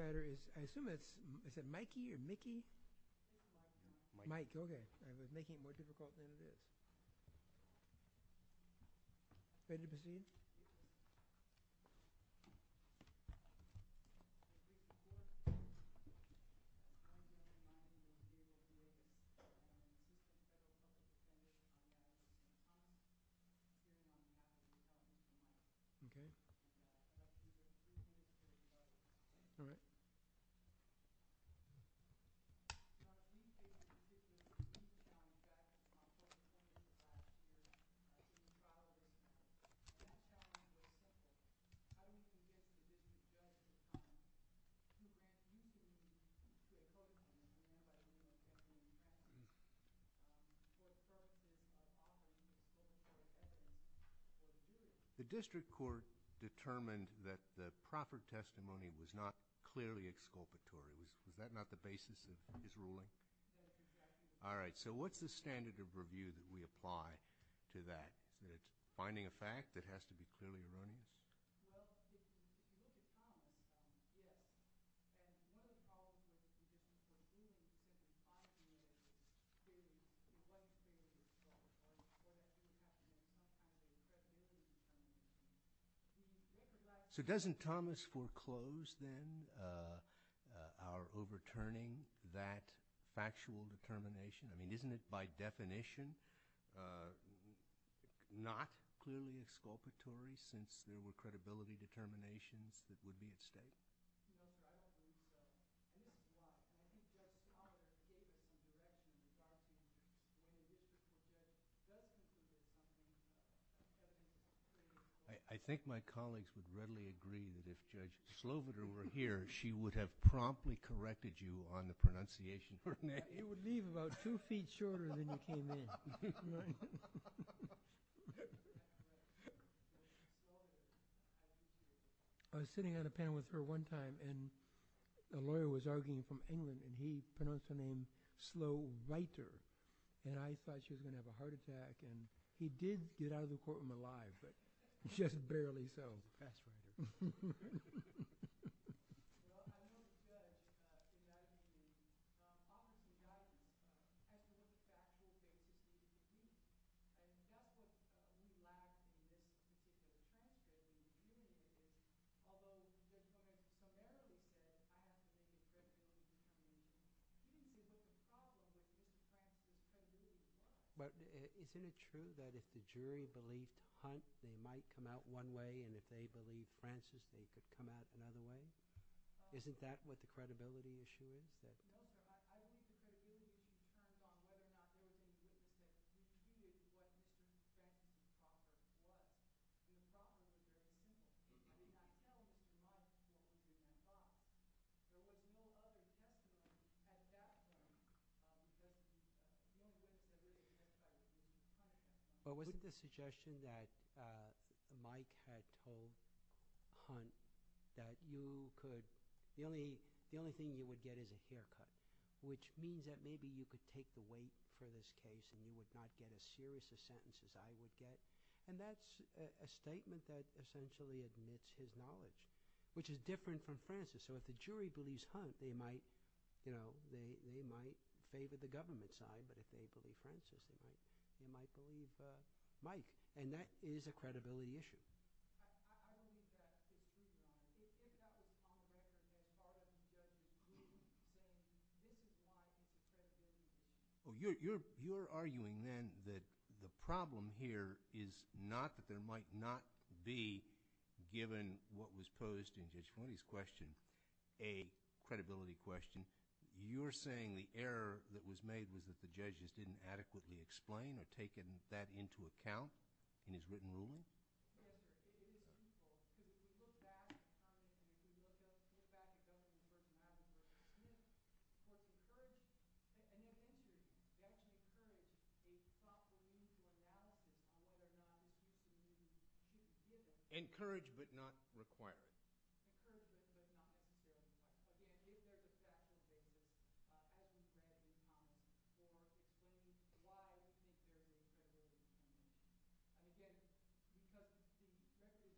I was making it more difficult for him to do it. The district court determined that the proper testimony was not clearly exculpatory. Is that not the basis of his ruling? All right. So what's the standard of review that we apply to that? That it's finding a fact that has to be clearly aligned? So doesn't Thomas foreclose then our overturning that factual determination? I mean, isn't it by definition not clearly exculpatory since there were credibility determinations that would be at stake? I think my colleagues would readily agree that if Judge Sloboda were here, she would have promptly corrected you on the pronunciation of her name. It would leave about two feet shorter than you came in. I was sitting on a panel with her one time, and a lawyer was arguing from England, and he pronounced her name Slo-writer, and I thought she was going to have a heart attack. And he did get out of the courtroom alive, but just barely so. But isn't it true that if the jury believes Hunt, they might come out one way, and if they believe Francis, they could come out another way? Isn't that what the credibility assurance is? Well, wasn't it the suggestion that Mike had told Hunt that you could – the only thing you would get is a haircut, which means that maybe you could take the weight for this case and you would not get as serious a sentence as I would get. And that's a statement that essentially admits his knowledge, which is different from Francis. So if the jury believes Hunt, they might favor the government side. But if they believe Francis, they might believe Mike. And that is a credibility issue. Well, you're arguing then that the problem here is not that there might not be, given what was posed in Judge Hunt's question, a credibility question. You're saying the error that was made was that the judges didn't adequately explain or take that into account in his written ruling? Yes. Encouraged but not required. I'm just curious as to what happened there. It was written in the statute. I don't know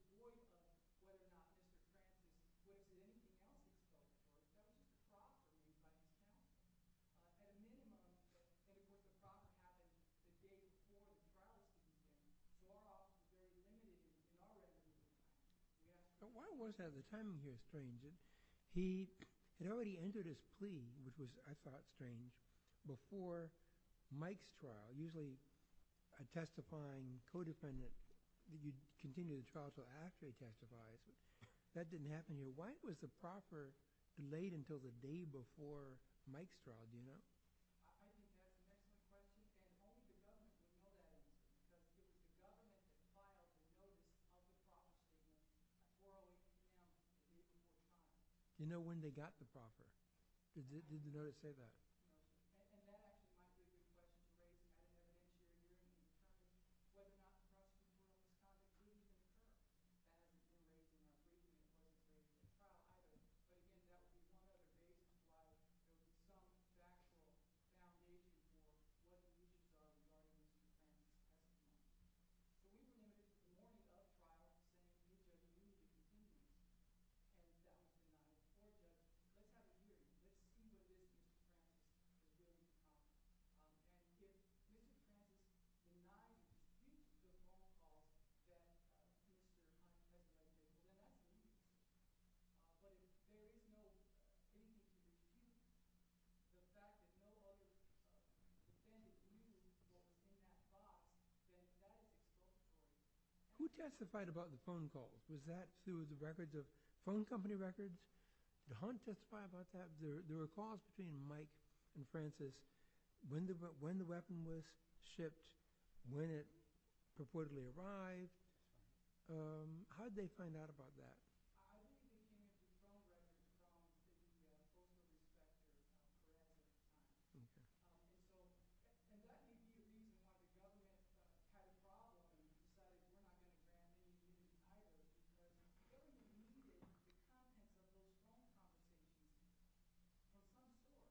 who wrote it. I don't know why it was included in the statute. And again, you can't just voice what happened there. There was a reason for it. I don't know why it was included. I don't know why it was. So why was that? The time here is strange. It already entered his plea, which was I thought strange, before Mike's trial. Usually a testifying co-defendant, you continue the trial until after he testified. That didn't happen here. Why was the proffer delayed until the day before Mike's trial? Do you know? Do you know when they got the proffer? Did you know it said that? Who testified about the phone calls? Was that through the record, the phone company record? The hunt testified about that. There were calls between Mike and Francis when the weapon was shipped, when it purportedly arrived. How did they find out about that? I don't know. I don't know. I don't know.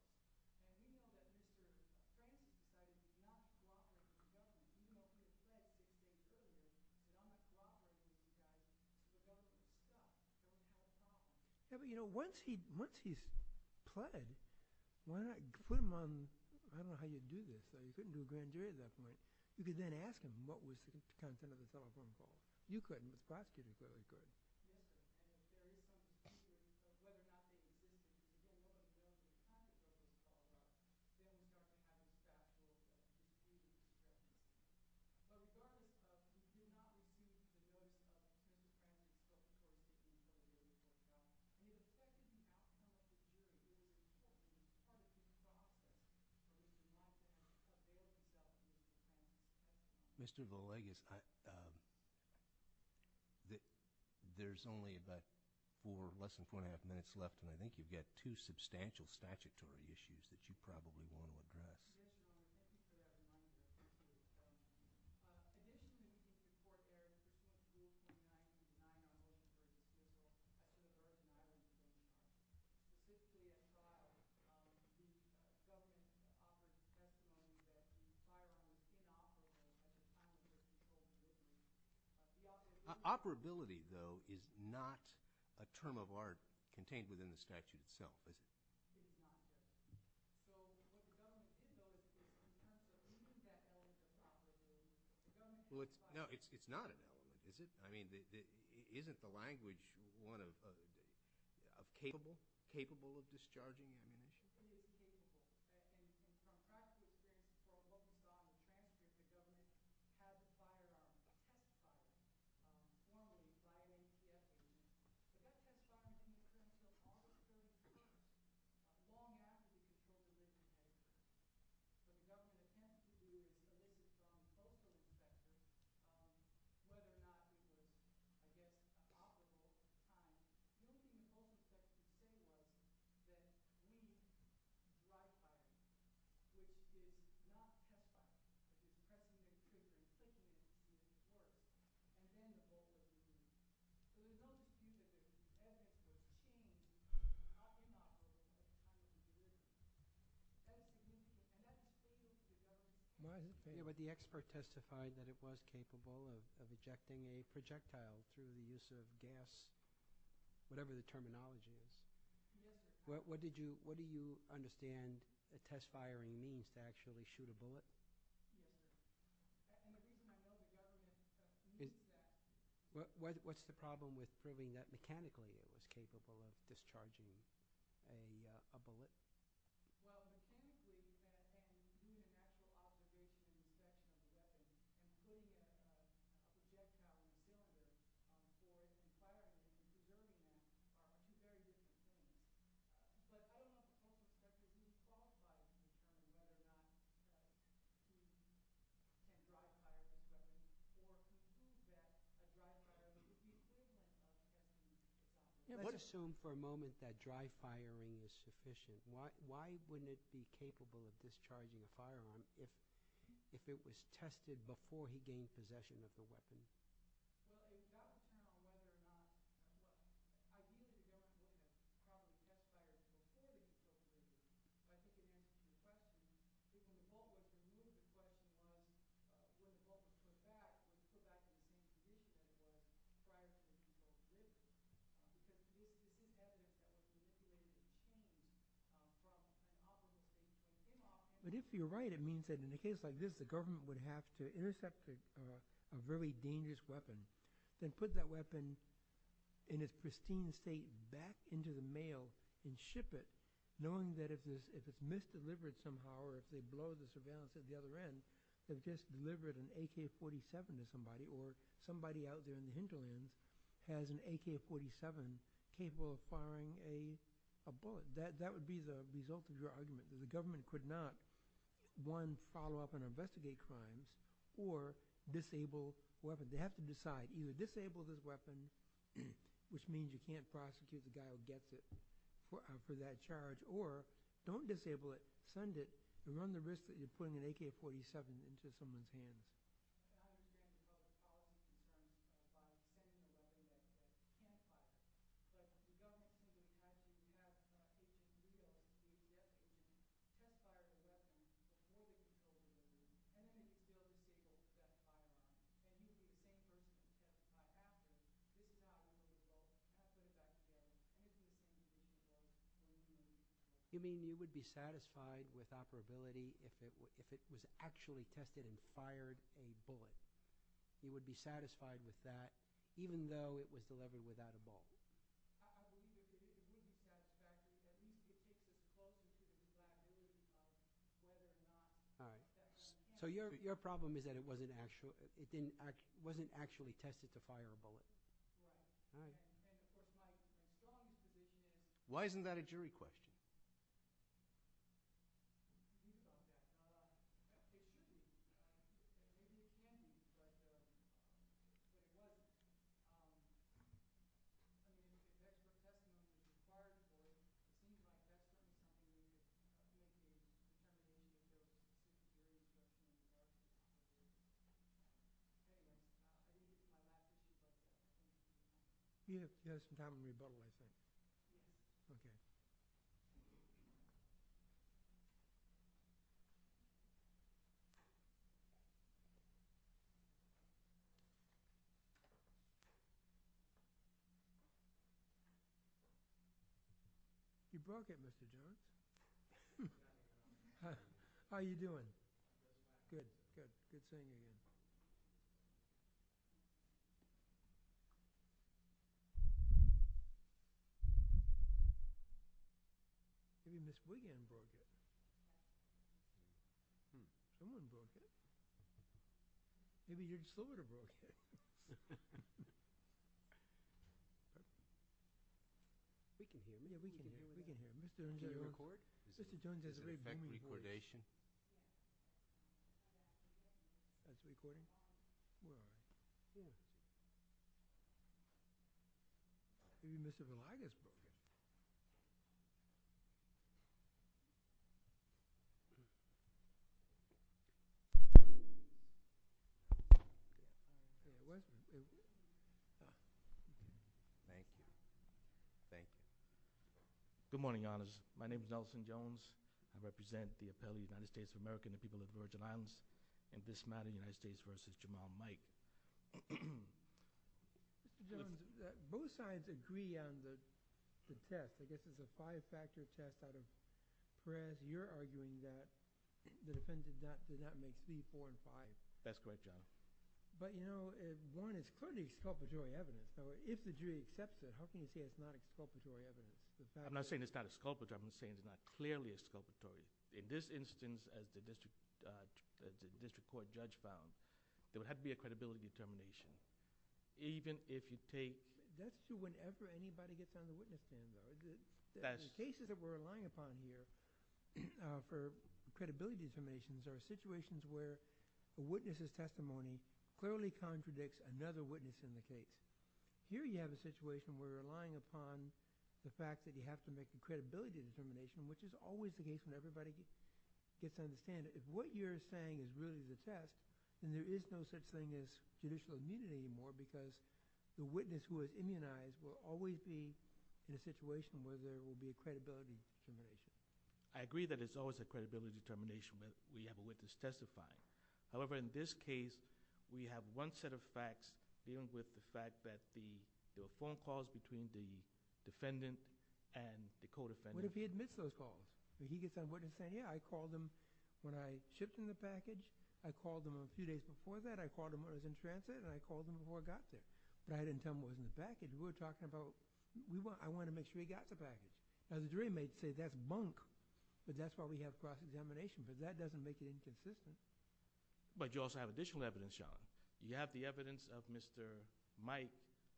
I don't know how you would do this. You couldn't do a grand jury of that much. You could then ask them what was the content of the telephone call. You couldn't. The prosecutor certainly couldn't. I don't know. I don't know. I don't know. I don't know. I don't know. It's not a term of art contained within the statue itself, is it? No, it's not a term of art, is it? I mean, isn't the language capable of discharging meaning? No, but the expert testified that it was capable of ejecting a projectile through the use of gas, whatever the terminology is. What do you understand a test firing means to actually shoot a bullet? What's the problem with proving that mechanically it is capable of discharging a bullet? Why wouldn't it be capable of discharging a firearm if it was tested before he gained possession of the weapon? But if you're right, it means that in a case like this, the government would have to intercept a very dangerous weapon, then put that weapon in its pristine state back into the mail and ship it, knowing that if it's misdelivered somehow, or if they blow the surveillance at the other end, they've just delivered an AK-47 to somebody, or somebody out there in the hinterlands has an AK-47 capable of firing a bullet. That would be the result of your argument, that the government could not, one, follow up and investigate crimes, or disable weapons. They have to decide, either disable those weapons, which means you can't prosecute the guy who gets it for that charge, or don't disable it, send it, and run the risk that you're putting an AK-47 into someone's hands. I mean, you would be satisfied with operability if it was actually tested and fired, you would be satisfied with that, even though it was delivered without a bullet. So your problem is that it wasn't actually tested to fire a bullet. Why isn't that a jury question? You have some time on your button, I think. You broke it, Mr. Jones. How are you doing? Good, good. Good seeing you again. Maybe Ms. Wiggins broke it. Someone broke it. Maybe you're just a little broke. We can hear you. We can hear you. Can you record? It's a factory cordation. Are you recording? Yeah. Good. Maybe Mr. Velaygas broke it. Thank you. Thank you. Good morning, honors. My name is Nelson Jones. I represent the Appellate United States of America and the people of the Virgin Islands in this matter, United States v. Jamal Mike. Mr. Jones, both sides agree on the test. I guess it was a five-factor test out of France. You're arguing that the defendant did not make three, four, and five. That's correct, Your Honor. But, you know, one, it's clearly exculpatory evidence. So if the jury accepts it, how can you say it's not exculpatory evidence? I'm not saying it's not exculpatory. I'm saying it's not clearly exculpatory. In this instance, as the district court judge found, there would have to be a credibility determination, even if you take— That's true whenever anybody gets on the witness stand, though. The cases that we're relying upon here for credibility determinations are situations where the witness's testimony clearly contradicts another witness in the case. Here you have a situation where you're relying upon the fact that you have to make a credibility determination, which is always the case when everybody gets on the stand. If what you're saying is really the test, then there is no such thing as judicial immunity anymore because the witness who is immunized will always be in a situation where there will be a credibility determination. I agree that it's always a credibility determination when we have a witness testify. However, in this case, we have one set of facts dealing with the fact that there were phone calls between the defendant and the co-defendant. What if he admits those calls? If he gets on the witness stand, yeah, I called him when I shipped him the package. I called him a few days before that. I called him when I was in transit, and I called him before I got there. But I didn't tell him what was in the package. We were talking about—I wanted to make sure he got the package. Now, the jury may say that's bunk, but that's why we have cross-examination, because that doesn't make it inconsistent. But you also have additional evidence, Your Honor. You have the evidence of Mr. Mike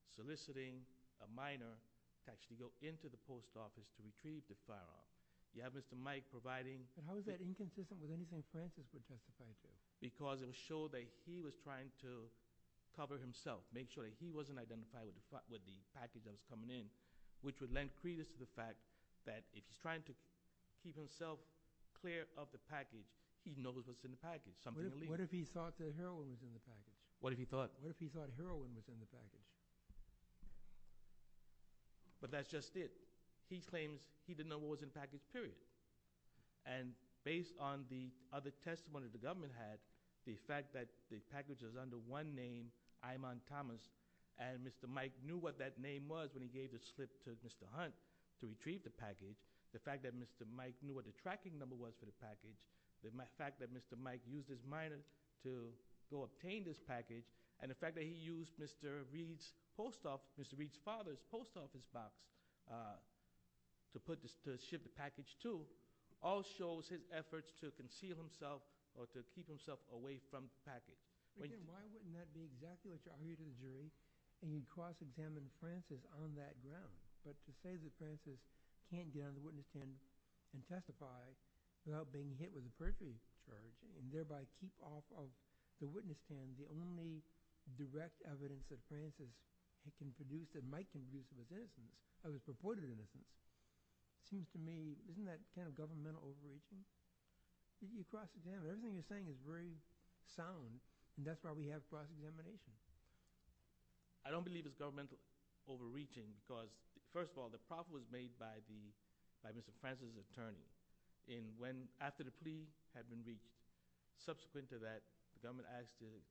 soliciting a minor to actually go into the post office to retrieve the file. You have Mr. Mike providing— But how is that inconsistent with anything Francis would testify to? Because it would show that he was trying to cover himself, make sure that he wasn't identified with the package that was coming in, which would lend credence to the fact that if he's trying to keep himself clear of the package, he knows what's in the package. What if he thought that heroin was in the package? What if he thought? What if he thought heroin was in the package? But that's just it. He claims he didn't know what was in the package, period. And based on the other testimony the government had, the fact that the package was under one name, Imon Thomas, and Mr. Mike knew what that name was when he gave the slip to Mr. Hunt to retrieve the package, the fact that Mr. Mike knew what the tracking number was for the package, the fact that Mr. Mike used his minor to go obtain this package, and the fact that he used Mr. Reed's post office—Mr. Reed's father's post office box to ship the package to, all shows his efforts to conceal himself or to keep himself away from the package. Why wouldn't that be exactly what you argued in the jury when you cross examined Francis on that ground? But to say that Francis can't get on the witness stand and testify without being hit with a perjury and thereby keep off of the witness stand the only direct evidence that Francis can produce that Mike can produce of his innocence, of his purported innocence, seems to me—isn't that kind of governmental overreaching? You cross examine—everything you're saying is very sound, and that's why we have cross examinations. I don't believe it's governmental overreaching because, first of all, the problem was made by the—by Mr. Francis' attorney in when—after the plea had been reached. Subsequent to that, the government asked the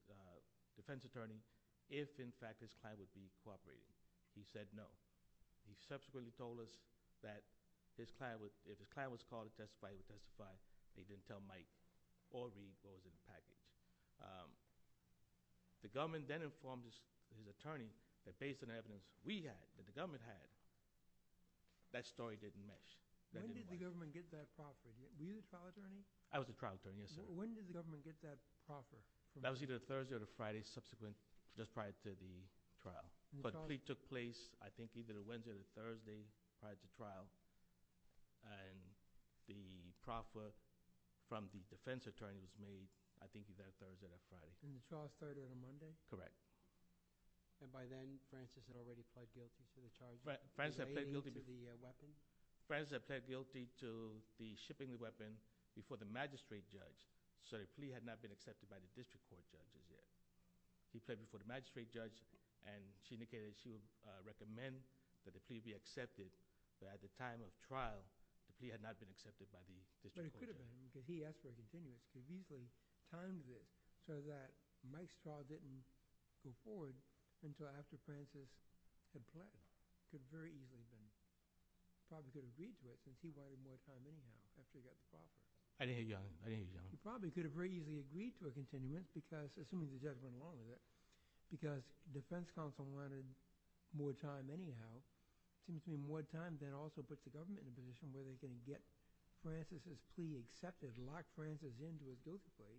defense attorney if, in fact, his client would be cooperating. He said no. He subsequently told us that his client would—if his client was called to testify, he would testify. They didn't tell Mike or Reed what was in the package. The government then informed his attorney that based on the evidence we had, that the government had, that story didn't match. When did the government get that proffer? Were you the trial attorney? I was the trial attorney, yes. When did the government get that proffer? That was either Thursday or the Friday subsequent, just prior to the trial. But the plea took place, I think, either Wednesday or Thursday prior to trial, and the proffer from the defense attorney was made, I think, either Thursday or Friday. And the trial started on Monday? Correct. And by then, Francis had already pled guilty to the charge relating to the weapon? Francis had pled guilty to the shipping of the weapon before the magistrate judge, so the plea had not been accepted by the district court judge. He pled before the magistrate judge, and she indicated that she would recommend that the plea be accepted, but at the time of trial, the plea had not been accepted by the district court judge. But it could have been, because he asked for a continuance. He usually times it so that Mike's fraud didn't go forward until after Francis had pled. It could have very easily been. He probably could have agreed to it, because he wanted more time anyhow after he got the proffer. I didn't hear you, Your Honor. I didn't hear you, Your Honor. He probably could have very easily agreed to a continuance because, assuming the judge went along with it, because the defense counsel wanted more time anyhow, it seems to me more time then also puts the government in a position where they can get Francis' plea accepted, lock Francis in to a guilty plea.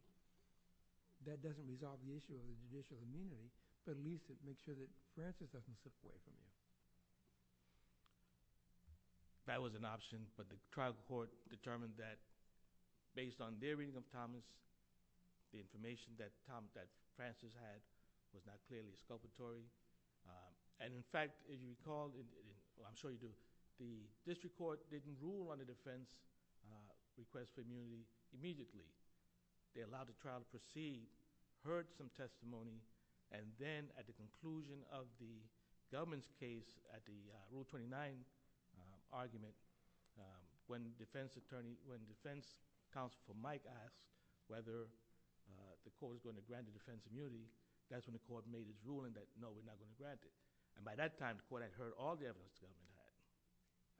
That doesn't resolve the issue of immunity, but at least it makes sure that Francis doesn't slip away from it. That was an option, but the trial court determined that based on their reading of Thomas, the information that Thomas, that Francis had, was not clearly exculpatory. In fact, if you recall, I'm sure you do, the district court didn't rule on the defense request for immunity immediately. They allowed the trial to proceed, heard some testimony, and then at the conclusion of the government's case at the Rule 29 argument, when the defense counsel for Mike asked whether the court was going to grant the defense immunity, that's when the court made a ruling that no, it was not going to grant it. By that time, the court had heard all the evidence the government had.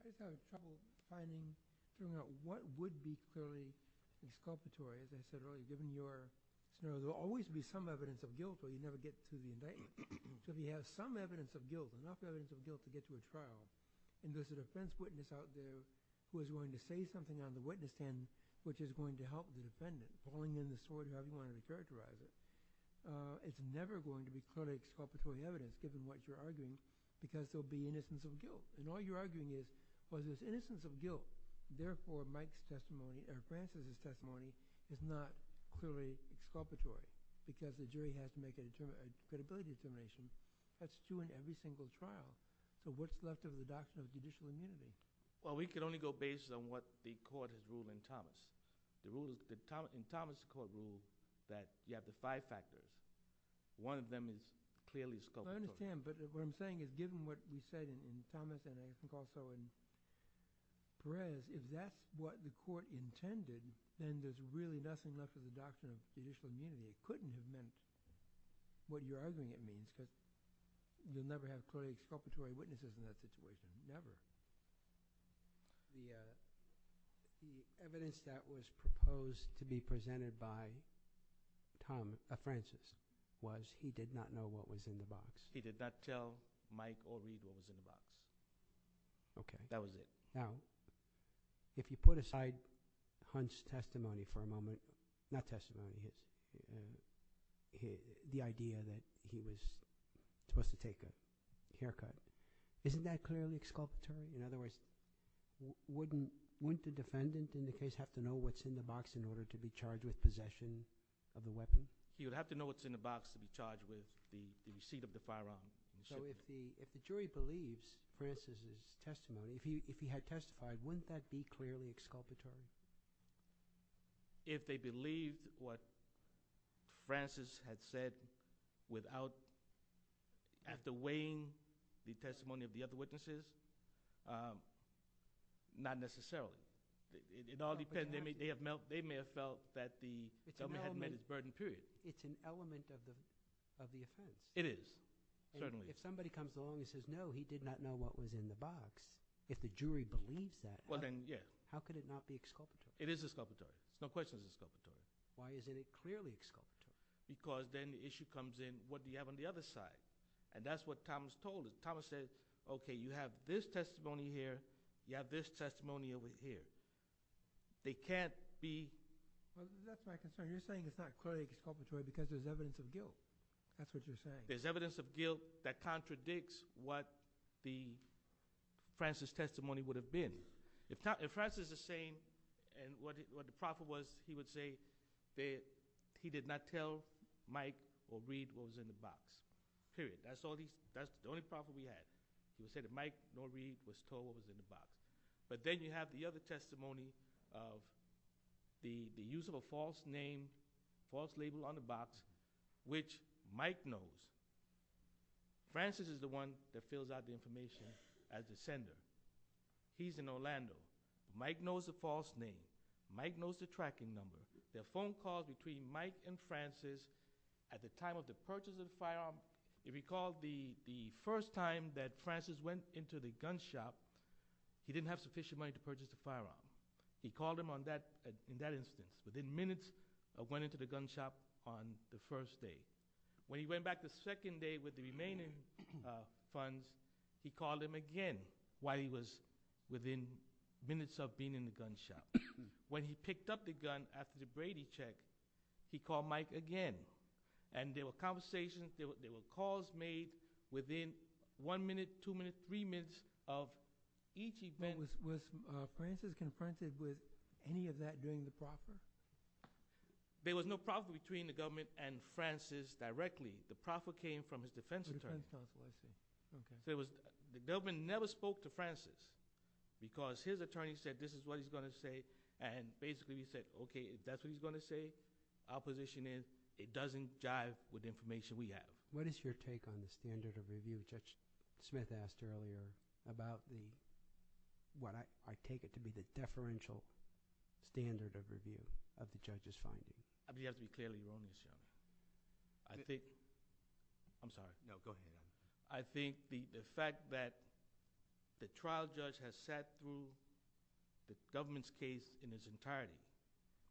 I just have a couple of findings. One, what would be clearly exculpatory? As I said earlier, there will always be some evidence of guilt, but you never get to the indictment. If you have some evidence of guilt, enough evidence of guilt to get you a trial, and there's a defense witness out there who is going to say something on the witness stand, which is going to help the defendant, pulling in the sword, however you want to characterize it, it's never going to be clearly exculpatory evidence, given what you're arguing, because there will be innocence of guilt. And all you're arguing is, well, there's innocence of guilt. Therefore, Mike's testimony or Francis' testimony is not clearly exculpatory because the jury has to make a determination, a credibility determination. That's true in every single trial. So what's left of the doctrine of judicial immunity? In Thomas' court rules, you have the five factors. One of them is clearly exculpatory. I understand, but what I'm saying is given what you said in Thomas and I think also in Perez, if that's what the court intended, then there's really nothing left of the doctrine of judicial immunity. It couldn't have meant what you're arguing it means, because you'll never have clearly exculpatory witnesses in that situation, never. The evidence that was proposed to be presented by Francis was he did not know what was in the box. He did not tell Mike O'Reilly what was in the box. Okay. That was it. Now, if you put aside Hunt's testimony for a moment, not testimony, the idea that he was supposed to take a haircut, isn't that clearly exculpatory? In other words, wouldn't the defendant in the case have to know what's in the box in order to be charged with possession of the weapon? He would have to know what's in the box to be charged with the receipt of the firearm. So if the jury believes Francis' testimony, if he had testified, wouldn't that be clearly exculpatory? If they believe what Francis had said without outweighing the testimony of the other witnesses, not necessarily. It all depends. They may have felt that the government had met its burden, period. It's an element of the offense. It is, certainly. If somebody comes along and says, no, he did not know what was in the box, if the jury believes that, how could it not be exculpatory? It is exculpatory. No question it's exculpatory. Why is it clearly exculpatory? Because then the issue comes in, what do you have on the other side? And that's what Thomas told us. Thomas said, okay, you have this testimony here. You have this testimony over here. They can't be- Well, that's my concern. You're saying it's not clearly exculpatory because there's evidence of guilt. That's what you're saying. There's evidence of guilt that contradicts what Francis' testimony would have been. If Francis is saying what the problem was, he would say that he did not tell Mike or Reed what was in the box, period. That's the only problem we had. He would say that Mike nor Reed was told what was in the box. But then you have the other testimony of the use of a false name, false label on the box, which Mike knows. Francis is the one that fills out the information as the sender. He's in Orlando. Mike knows the false name. Mike knows the tracking number. There are phone calls between Mike and Francis at the time of the purchase of the firearm. If you recall, the first time that Francis went into the gun shop, he didn't have sufficient money to purchase the firearm. He called him in that instance, within minutes of going into the gun shop on the first day. While he was within minutes of being in the gun shop. When he picked up the gun after the Brady check, he called Mike again. And there were conversations, there were calls made within one minute, two minutes, three minutes of each event. Was Francis confronted with any of that during the process? There was no problem between the government and Francis directly. The problem came from his defense attorney. The government never spoke to Francis because his attorney said this is what he's going to say. And basically he said, okay, if that's what he's going to say, our position is it doesn't jive with the information we have. What is your take on the standard of review? Judge Smith asked earlier about what I take it to be the deferential standard of review of the judge's findings. You have to be clearly on the show. I think, I'm sorry, no, go ahead. I think the fact that the trial judge has sat through the government's case in its entirety.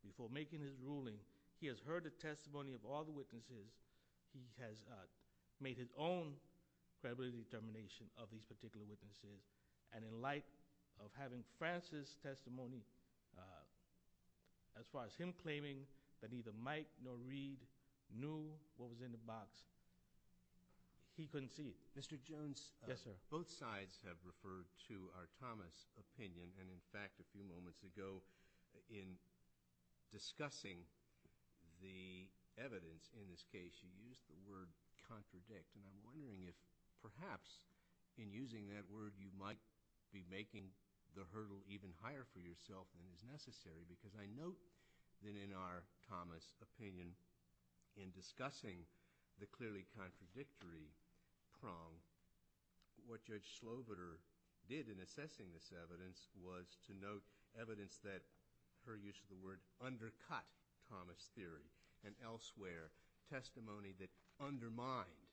Before making his ruling, he has heard the testimony of all the witnesses. He has made his own federal determination of these particular witnesses. And in light of having Francis' testimony, as far as him claiming that neither Mike nor Reed knew what was in the box, he couldn't see it. Mr. Jones? Yes, sir. Both sides have referred to our Thomas opinion. And in fact, a few moments ago in discussing the evidence in this case, you used the word contradict. And I'm wondering if perhaps in using that word you might be making the hurdle even higher for yourself than is necessary. Because I note that in our Thomas opinion, in discussing the clearly contradictory prong, what Judge Slobodur did in assessing this evidence was to note evidence that, per use of the word, undercut Thomas' theory and elsewhere testimony that undermined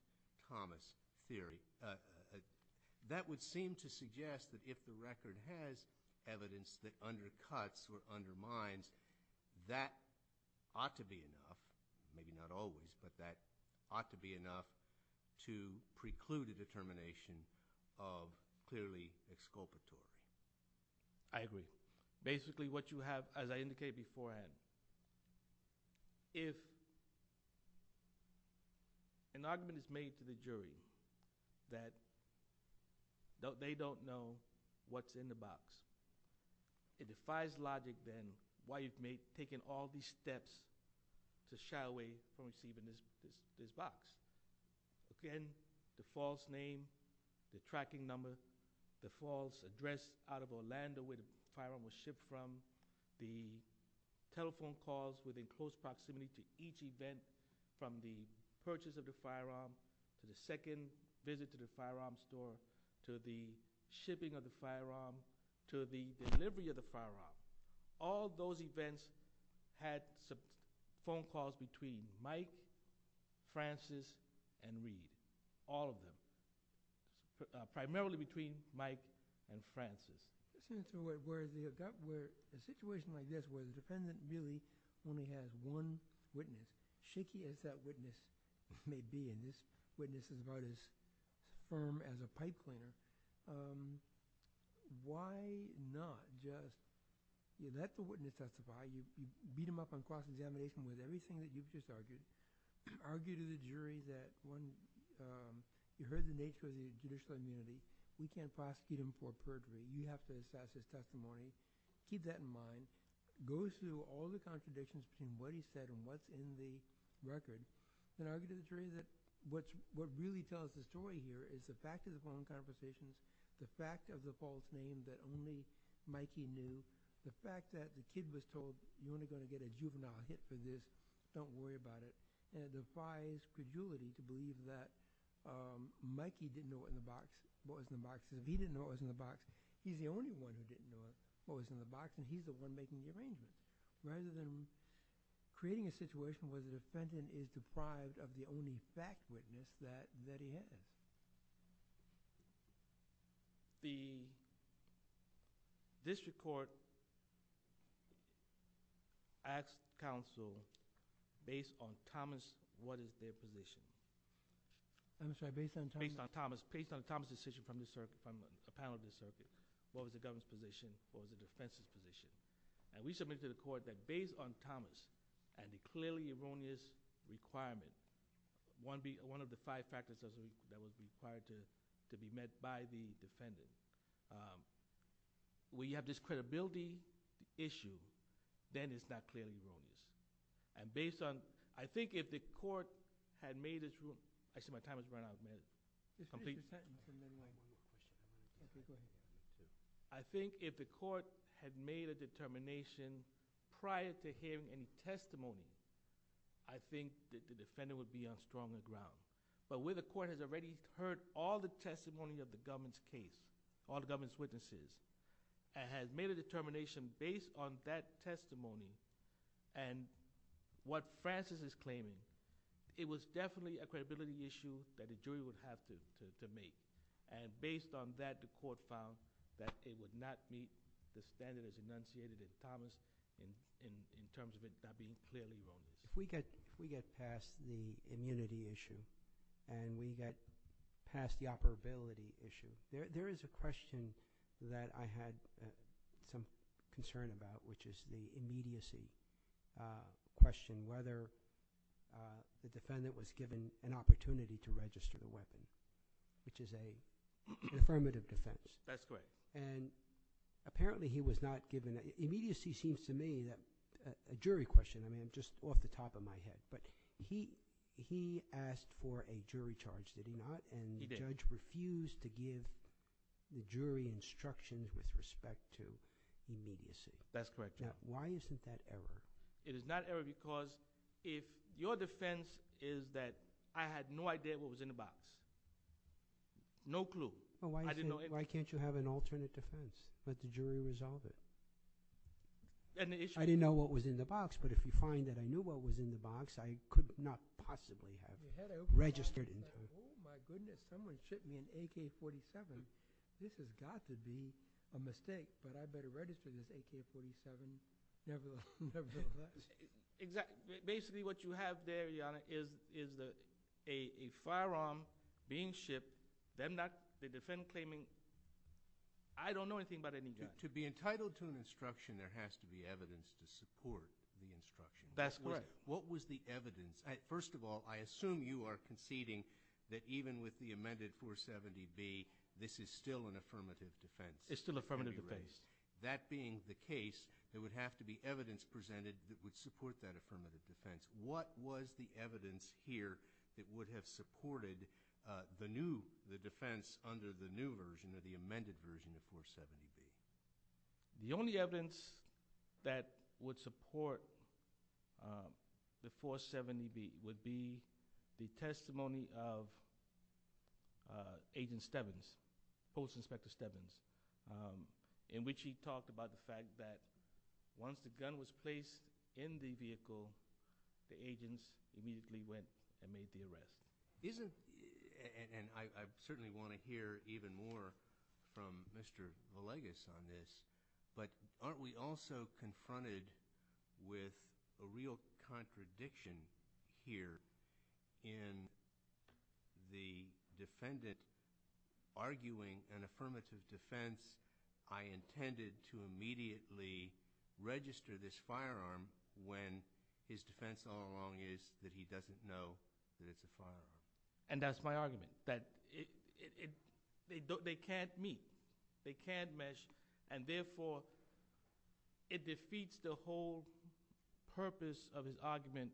Thomas' theory. That would seem to suggest that if the record has evidence that undercuts or undermines, that ought to be enough, maybe not always, but that ought to be enough to preclude a determination of clearly exculpatory. I agree. Basically, what you have, as I indicated beforehand, if an argument is made to the jury that they don't know what's in the box, it defies logic then why you've taken all these steps to shy away from seeing this box. Again, the false name, the tracking number, the false address out of Orlando where the firearm was shipped from, the telephone calls within close proximity to each event from the purchase of the firearm to the second visit to the firearm store to the shipping of the firearm to the delivery of the firearm. All those events had phone calls between Mike, Francis, and Reed. All of them. Primarily between Mike and Francis. In a situation like this where the defendant really only has one witness, shaky as that witness may be, and this witness is about as firm as a pipe cleaner, why not just let the witness testify? You beat him up on cross-examination with everything that you've disargued. Argue to the jury that you heard the nature of the judicial immunity. We can't prosecute him for perjury. You have to assess his testimony. Keep that in mind. Go through all the contradictions between what he said and what's in the record. Then argue to the jury that what really tells the story here is the fact of the phone conversation, the fact of the false name that only Mikey knew, the fact that the kid was told, you're only going to get a juvenile hit for this, don't worry about it, and it defies credulity to believe that Mikey didn't know what was in the box because if he didn't know what was in the box, he's the only one who didn't know what was in the box, and he's the one making the arrangements. Rather than creating a situation where the defendant is deprived of the only fact witness that he had. The district court asked counsel based on Thomas, what is their position? I'm sorry, based on Thomas? Based on Thomas, based on Thomas' decision from the panel of the circuit, what was the government's position, what was the defense's position? And we submitted to the court that based on Thomas and the clearly erroneous requirement, one of the five factors that was required to be met by the defendant, we have this credibility issue, then it's not clearly erroneous. And based on, I think if the court had made this rule, I see my time has run out, ma'am. Complete? I think if the court had made a determination prior to hearing any testimony, I think that the defendant would be on stronger ground. But where the court has already heard all the testimony of the government's case, all the government's witnesses, and has made a determination based on that testimony, and what Francis is claiming, it was definitely a credibility issue that the jury would have to make. And based on that, the court found that it would not meet the standards enunciated in Thomas in terms of it not being clearly erroneous. If we get past the immunity issue and we get past the operability issue, there is a question that I had some concern about, which is the immediacy question, whether the defendant was given an opportunity to register a weapon, which is an affirmative defense. That's correct. And apparently he was not given – immediacy seems to me a jury question, I mean, just off the top of my head. But he asked for a jury charge, did he not? He did. But the judge refused to give the jury instructions with respect to immediacy. That's correct. Now, why isn't that error? It is not error because if your defense is that I had no idea what was in the box, no clue, I didn't know anything. Well, why can't you have an alternate defense? Let the jury resolve it. I didn't know what was in the box, but if you find that I knew what was in the box, I could not possibly have registered anything. Oh, my goodness. Someone shipped me an AK-47. This has got to be a mistake, but I better register this AK-47. Never have I. Basically, what you have there, Your Honor, is a firearm being shipped, the defendant claiming I don't know anything about any gun. To be entitled to an instruction, there has to be evidence to support the instruction. That's correct. What was the evidence? First of all, I assume you are conceding that even with the amended 470B, this is still an affirmative defense. It's still an affirmative defense. That being the case, there would have to be evidence presented that would support that affirmative defense. What was the evidence here that would have supported the defense under the new version or the amended version of 470B? The only evidence that would support the 470B would be the testimony of Agent Stevens, Post Inspector Stevens, in which he talked about the fact that once the gun was placed in the vehicle, the agents immediately went and made the arrest. I certainly want to hear even more from Mr. Villegas on this, but aren't we also confronted with a real contradiction here in the defendant arguing an affirmative defense, I intended to immediately register this firearm when his defense all along is that he doesn't know that it's a firearm. And that's my argument, that they can't meet, they can't mesh, and therefore, it defeats the whole purpose of his argument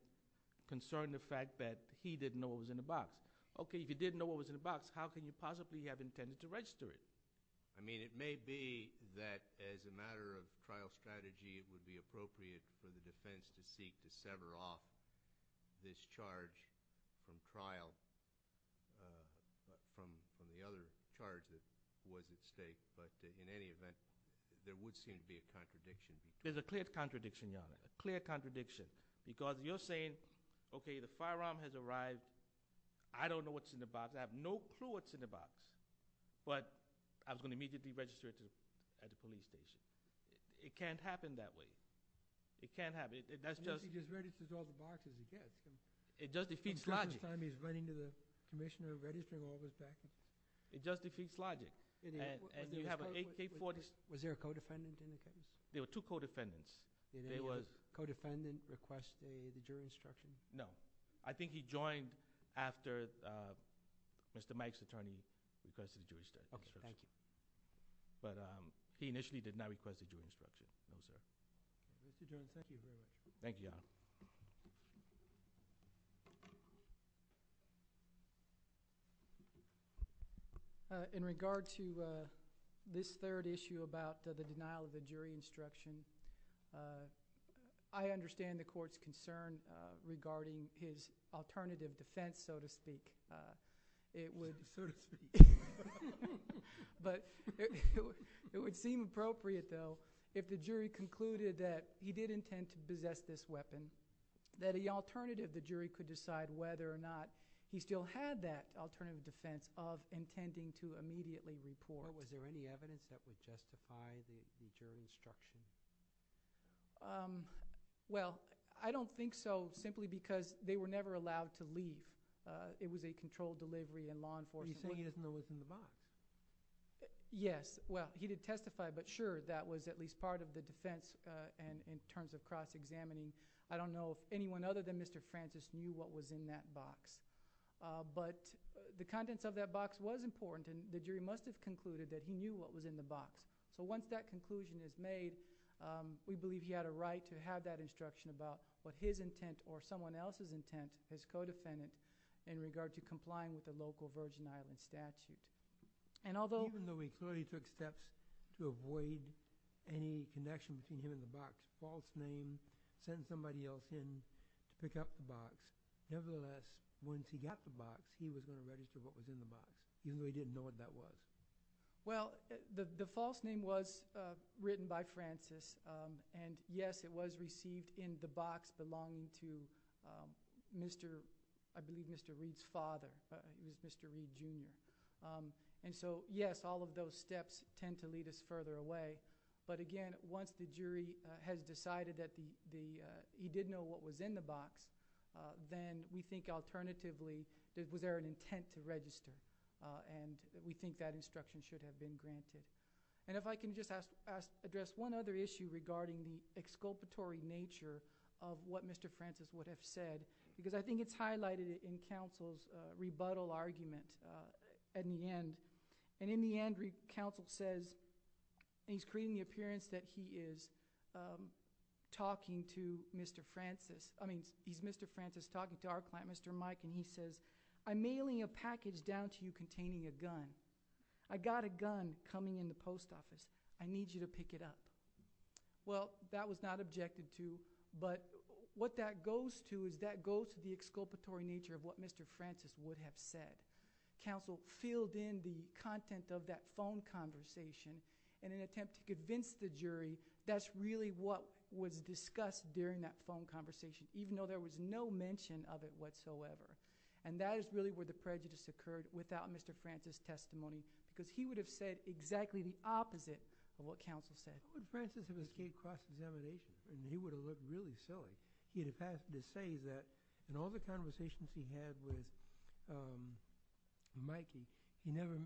concerning the fact that he didn't know what was in the box. Okay, if he didn't know what was in the box, how could he possibly have intended to register it? I mean, it may be that as a matter of trial strategy, it would be appropriate for the defense to seek to sever off this charge from trial from the other charge that was at stake. But in any event, there would seem to be a contradiction. There's a clear contradiction, Your Honor, a clear contradiction. Because you're saying, okay, the firearm has arrived, I don't know what's in the box, I have no clue what's in the box. But I was going to immediately register it at the police station. It can't happen that way. It can't happen, that's just- Unless he just registers all the boxes he gets. It just defeats logic. Until this time, he's running to the commissioner, registering all those boxes. It just defeats logic. And you have an AK-40- Was there a co-defendant in the case? There were two co-defendants. Did a co-defendant request a jury instruction? No. I think he joined after Mr. Mike's attorney requested a jury instruction. Okay, thank you. But he initially did not request a jury instruction. Thank you, Your Honor. Thank you, Your Honor. In regard to this third issue about the denial of the jury instruction, I understand the court's concern regarding his alternative defense, so to speak. It would- So to speak. But it would seem appropriate, though, if the jury concluded that he did intend to possess this weapon, that the alternative the jury could decide whether or not he still had that alternative defense of intending to immediately report. Was there any evidence that would justify the jury instruction? Well, I don't think so, simply because they were never allowed to leave. It was a controlled delivery in law enforcement. Are you saying he didn't know what was in the box? Yes. Well, he did testify, but sure, that was at least part of the defense in terms of cross-examining. I don't know if anyone other than Mr. Francis knew what was in that box. But the contents of that box was important, and the jury must have concluded that he knew what was in the box. So once that conclusion is made, we believe he had a right to have that instruction about what his intent or someone else's intent, his co-defendant, in regard to complying with the local Virgin Islands statute. And although- Even though he clearly took steps to avoid any connection between him and the box, false name, send somebody else in, pick up the box, nevertheless, once he got the box, he was going to register what was in the box, even though he didn't know what that was. Well, the false name was written by Francis, and yes, it was received in the box belonging to, I believe, Mr. Reed's father, Mr. Reed, Jr. And so, yes, all of those steps tend to lead us further away. But again, once the jury has decided that he did know what was in the box, then we think alternatively, was there an intent to register? And we think that instruction should have been granted. And if I can just address one other issue regarding the exculpatory nature of what Mr. Francis would have said, because I think it's highlighted in counsel's rebuttal argument at the end. And in the end, counsel says, and he's creating the appearance that he is talking to Mr. Francis. I mean, he's Mr. Francis talking to our client, Mr. Mike, and he says, I'm mailing a package down to you containing a gun. I got a gun coming in the post office. I need you to pick it up. Well, that was not objected to. But what that goes to is that goes to the exculpatory nature of what Mr. Francis would have said. Counsel filled in the content of that phone conversation in an attempt to convince the jury that's really what was discussed during that phone conversation, even though there was no mention of it whatsoever. And that is really where the prejudice occurred without Mr. Francis' testimony, because he would have said exactly the opposite of what counsel said. I mean, Francis would have escaped cross-examination. I mean, he would have looked really silly. He would have had to say that in all the conversations he had with Mike, he never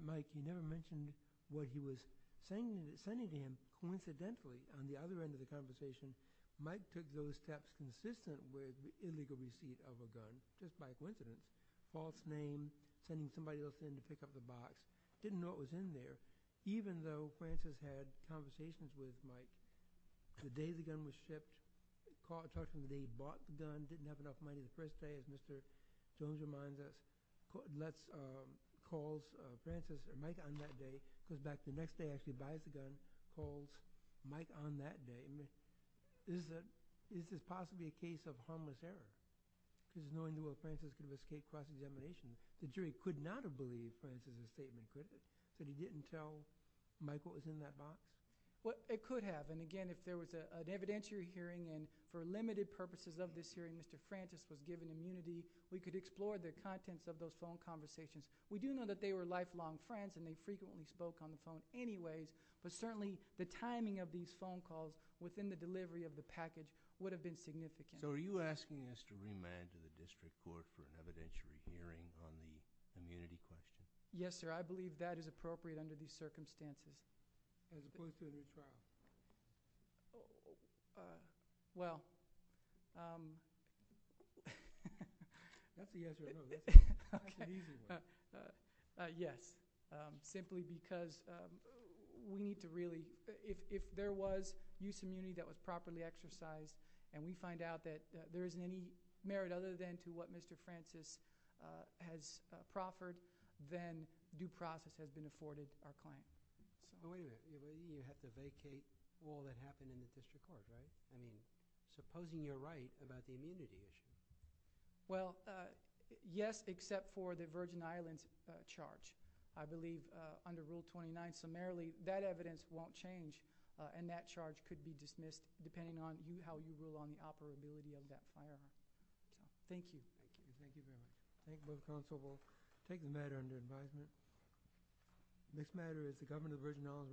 mentioned what he was sending to him. Coincidentally, on the other end of the conversation, Mike took those steps consistent with the illegal receipt of a gun, just by coincidence. False name, sending somebody else in to pick up the box. Didn't know what was in there, even though Francis had conversations with Mike. The day the gun was shipped, talking the day he bought the gun, he didn't have enough money. The first day, as Mr. Jones reminds us, calls Francis and Mike on that day, goes back the next day, actually buys the gun, calls Mike on that day. I mean, is this possibly a case of harmless error? This is knowing where Francis could have escaped cross-examination. The jury could not have believed Francis' statement, could they? That he didn't tell Mike what was in that box? Well, it could have. And, again, if there was an evidentiary hearing, and for limited purposes of this hearing, Mr. Francis was given immunity, we could explore the contents of those phone conversations. We do know that they were lifelong friends and they frequently spoke on the phone anyways, but certainly the timing of these phone calls within the delivery of the package would have been significant. So are you asking us to remand to the district court for an evidentiary hearing on the immunity question? Yes, sir. I believe that is appropriate under these circumstances. Well, that's the answer I know. That's an easy one. Yes, simply because we need to really – if there was use of immunity that was properly exercised and we find out that there isn't any merit other than to what Mr. Francis has proffered, then due process has been afforded our claim. So believe me, you have to vacate all that happened in the district court, right? I mean, supposing you're right about the immunity issue. Well, yes, except for the Virgin Islands charge. I believe under Rule 29, summarily, that evidence won't change and that charge could be dismissed depending on how you rule on the operability of that file. Thank you. Thank you very much. Thank you, Mr. Counsel. We'll take the matter under advisement. The next matter is the government of the Virgin Islands v. Oswald Mills.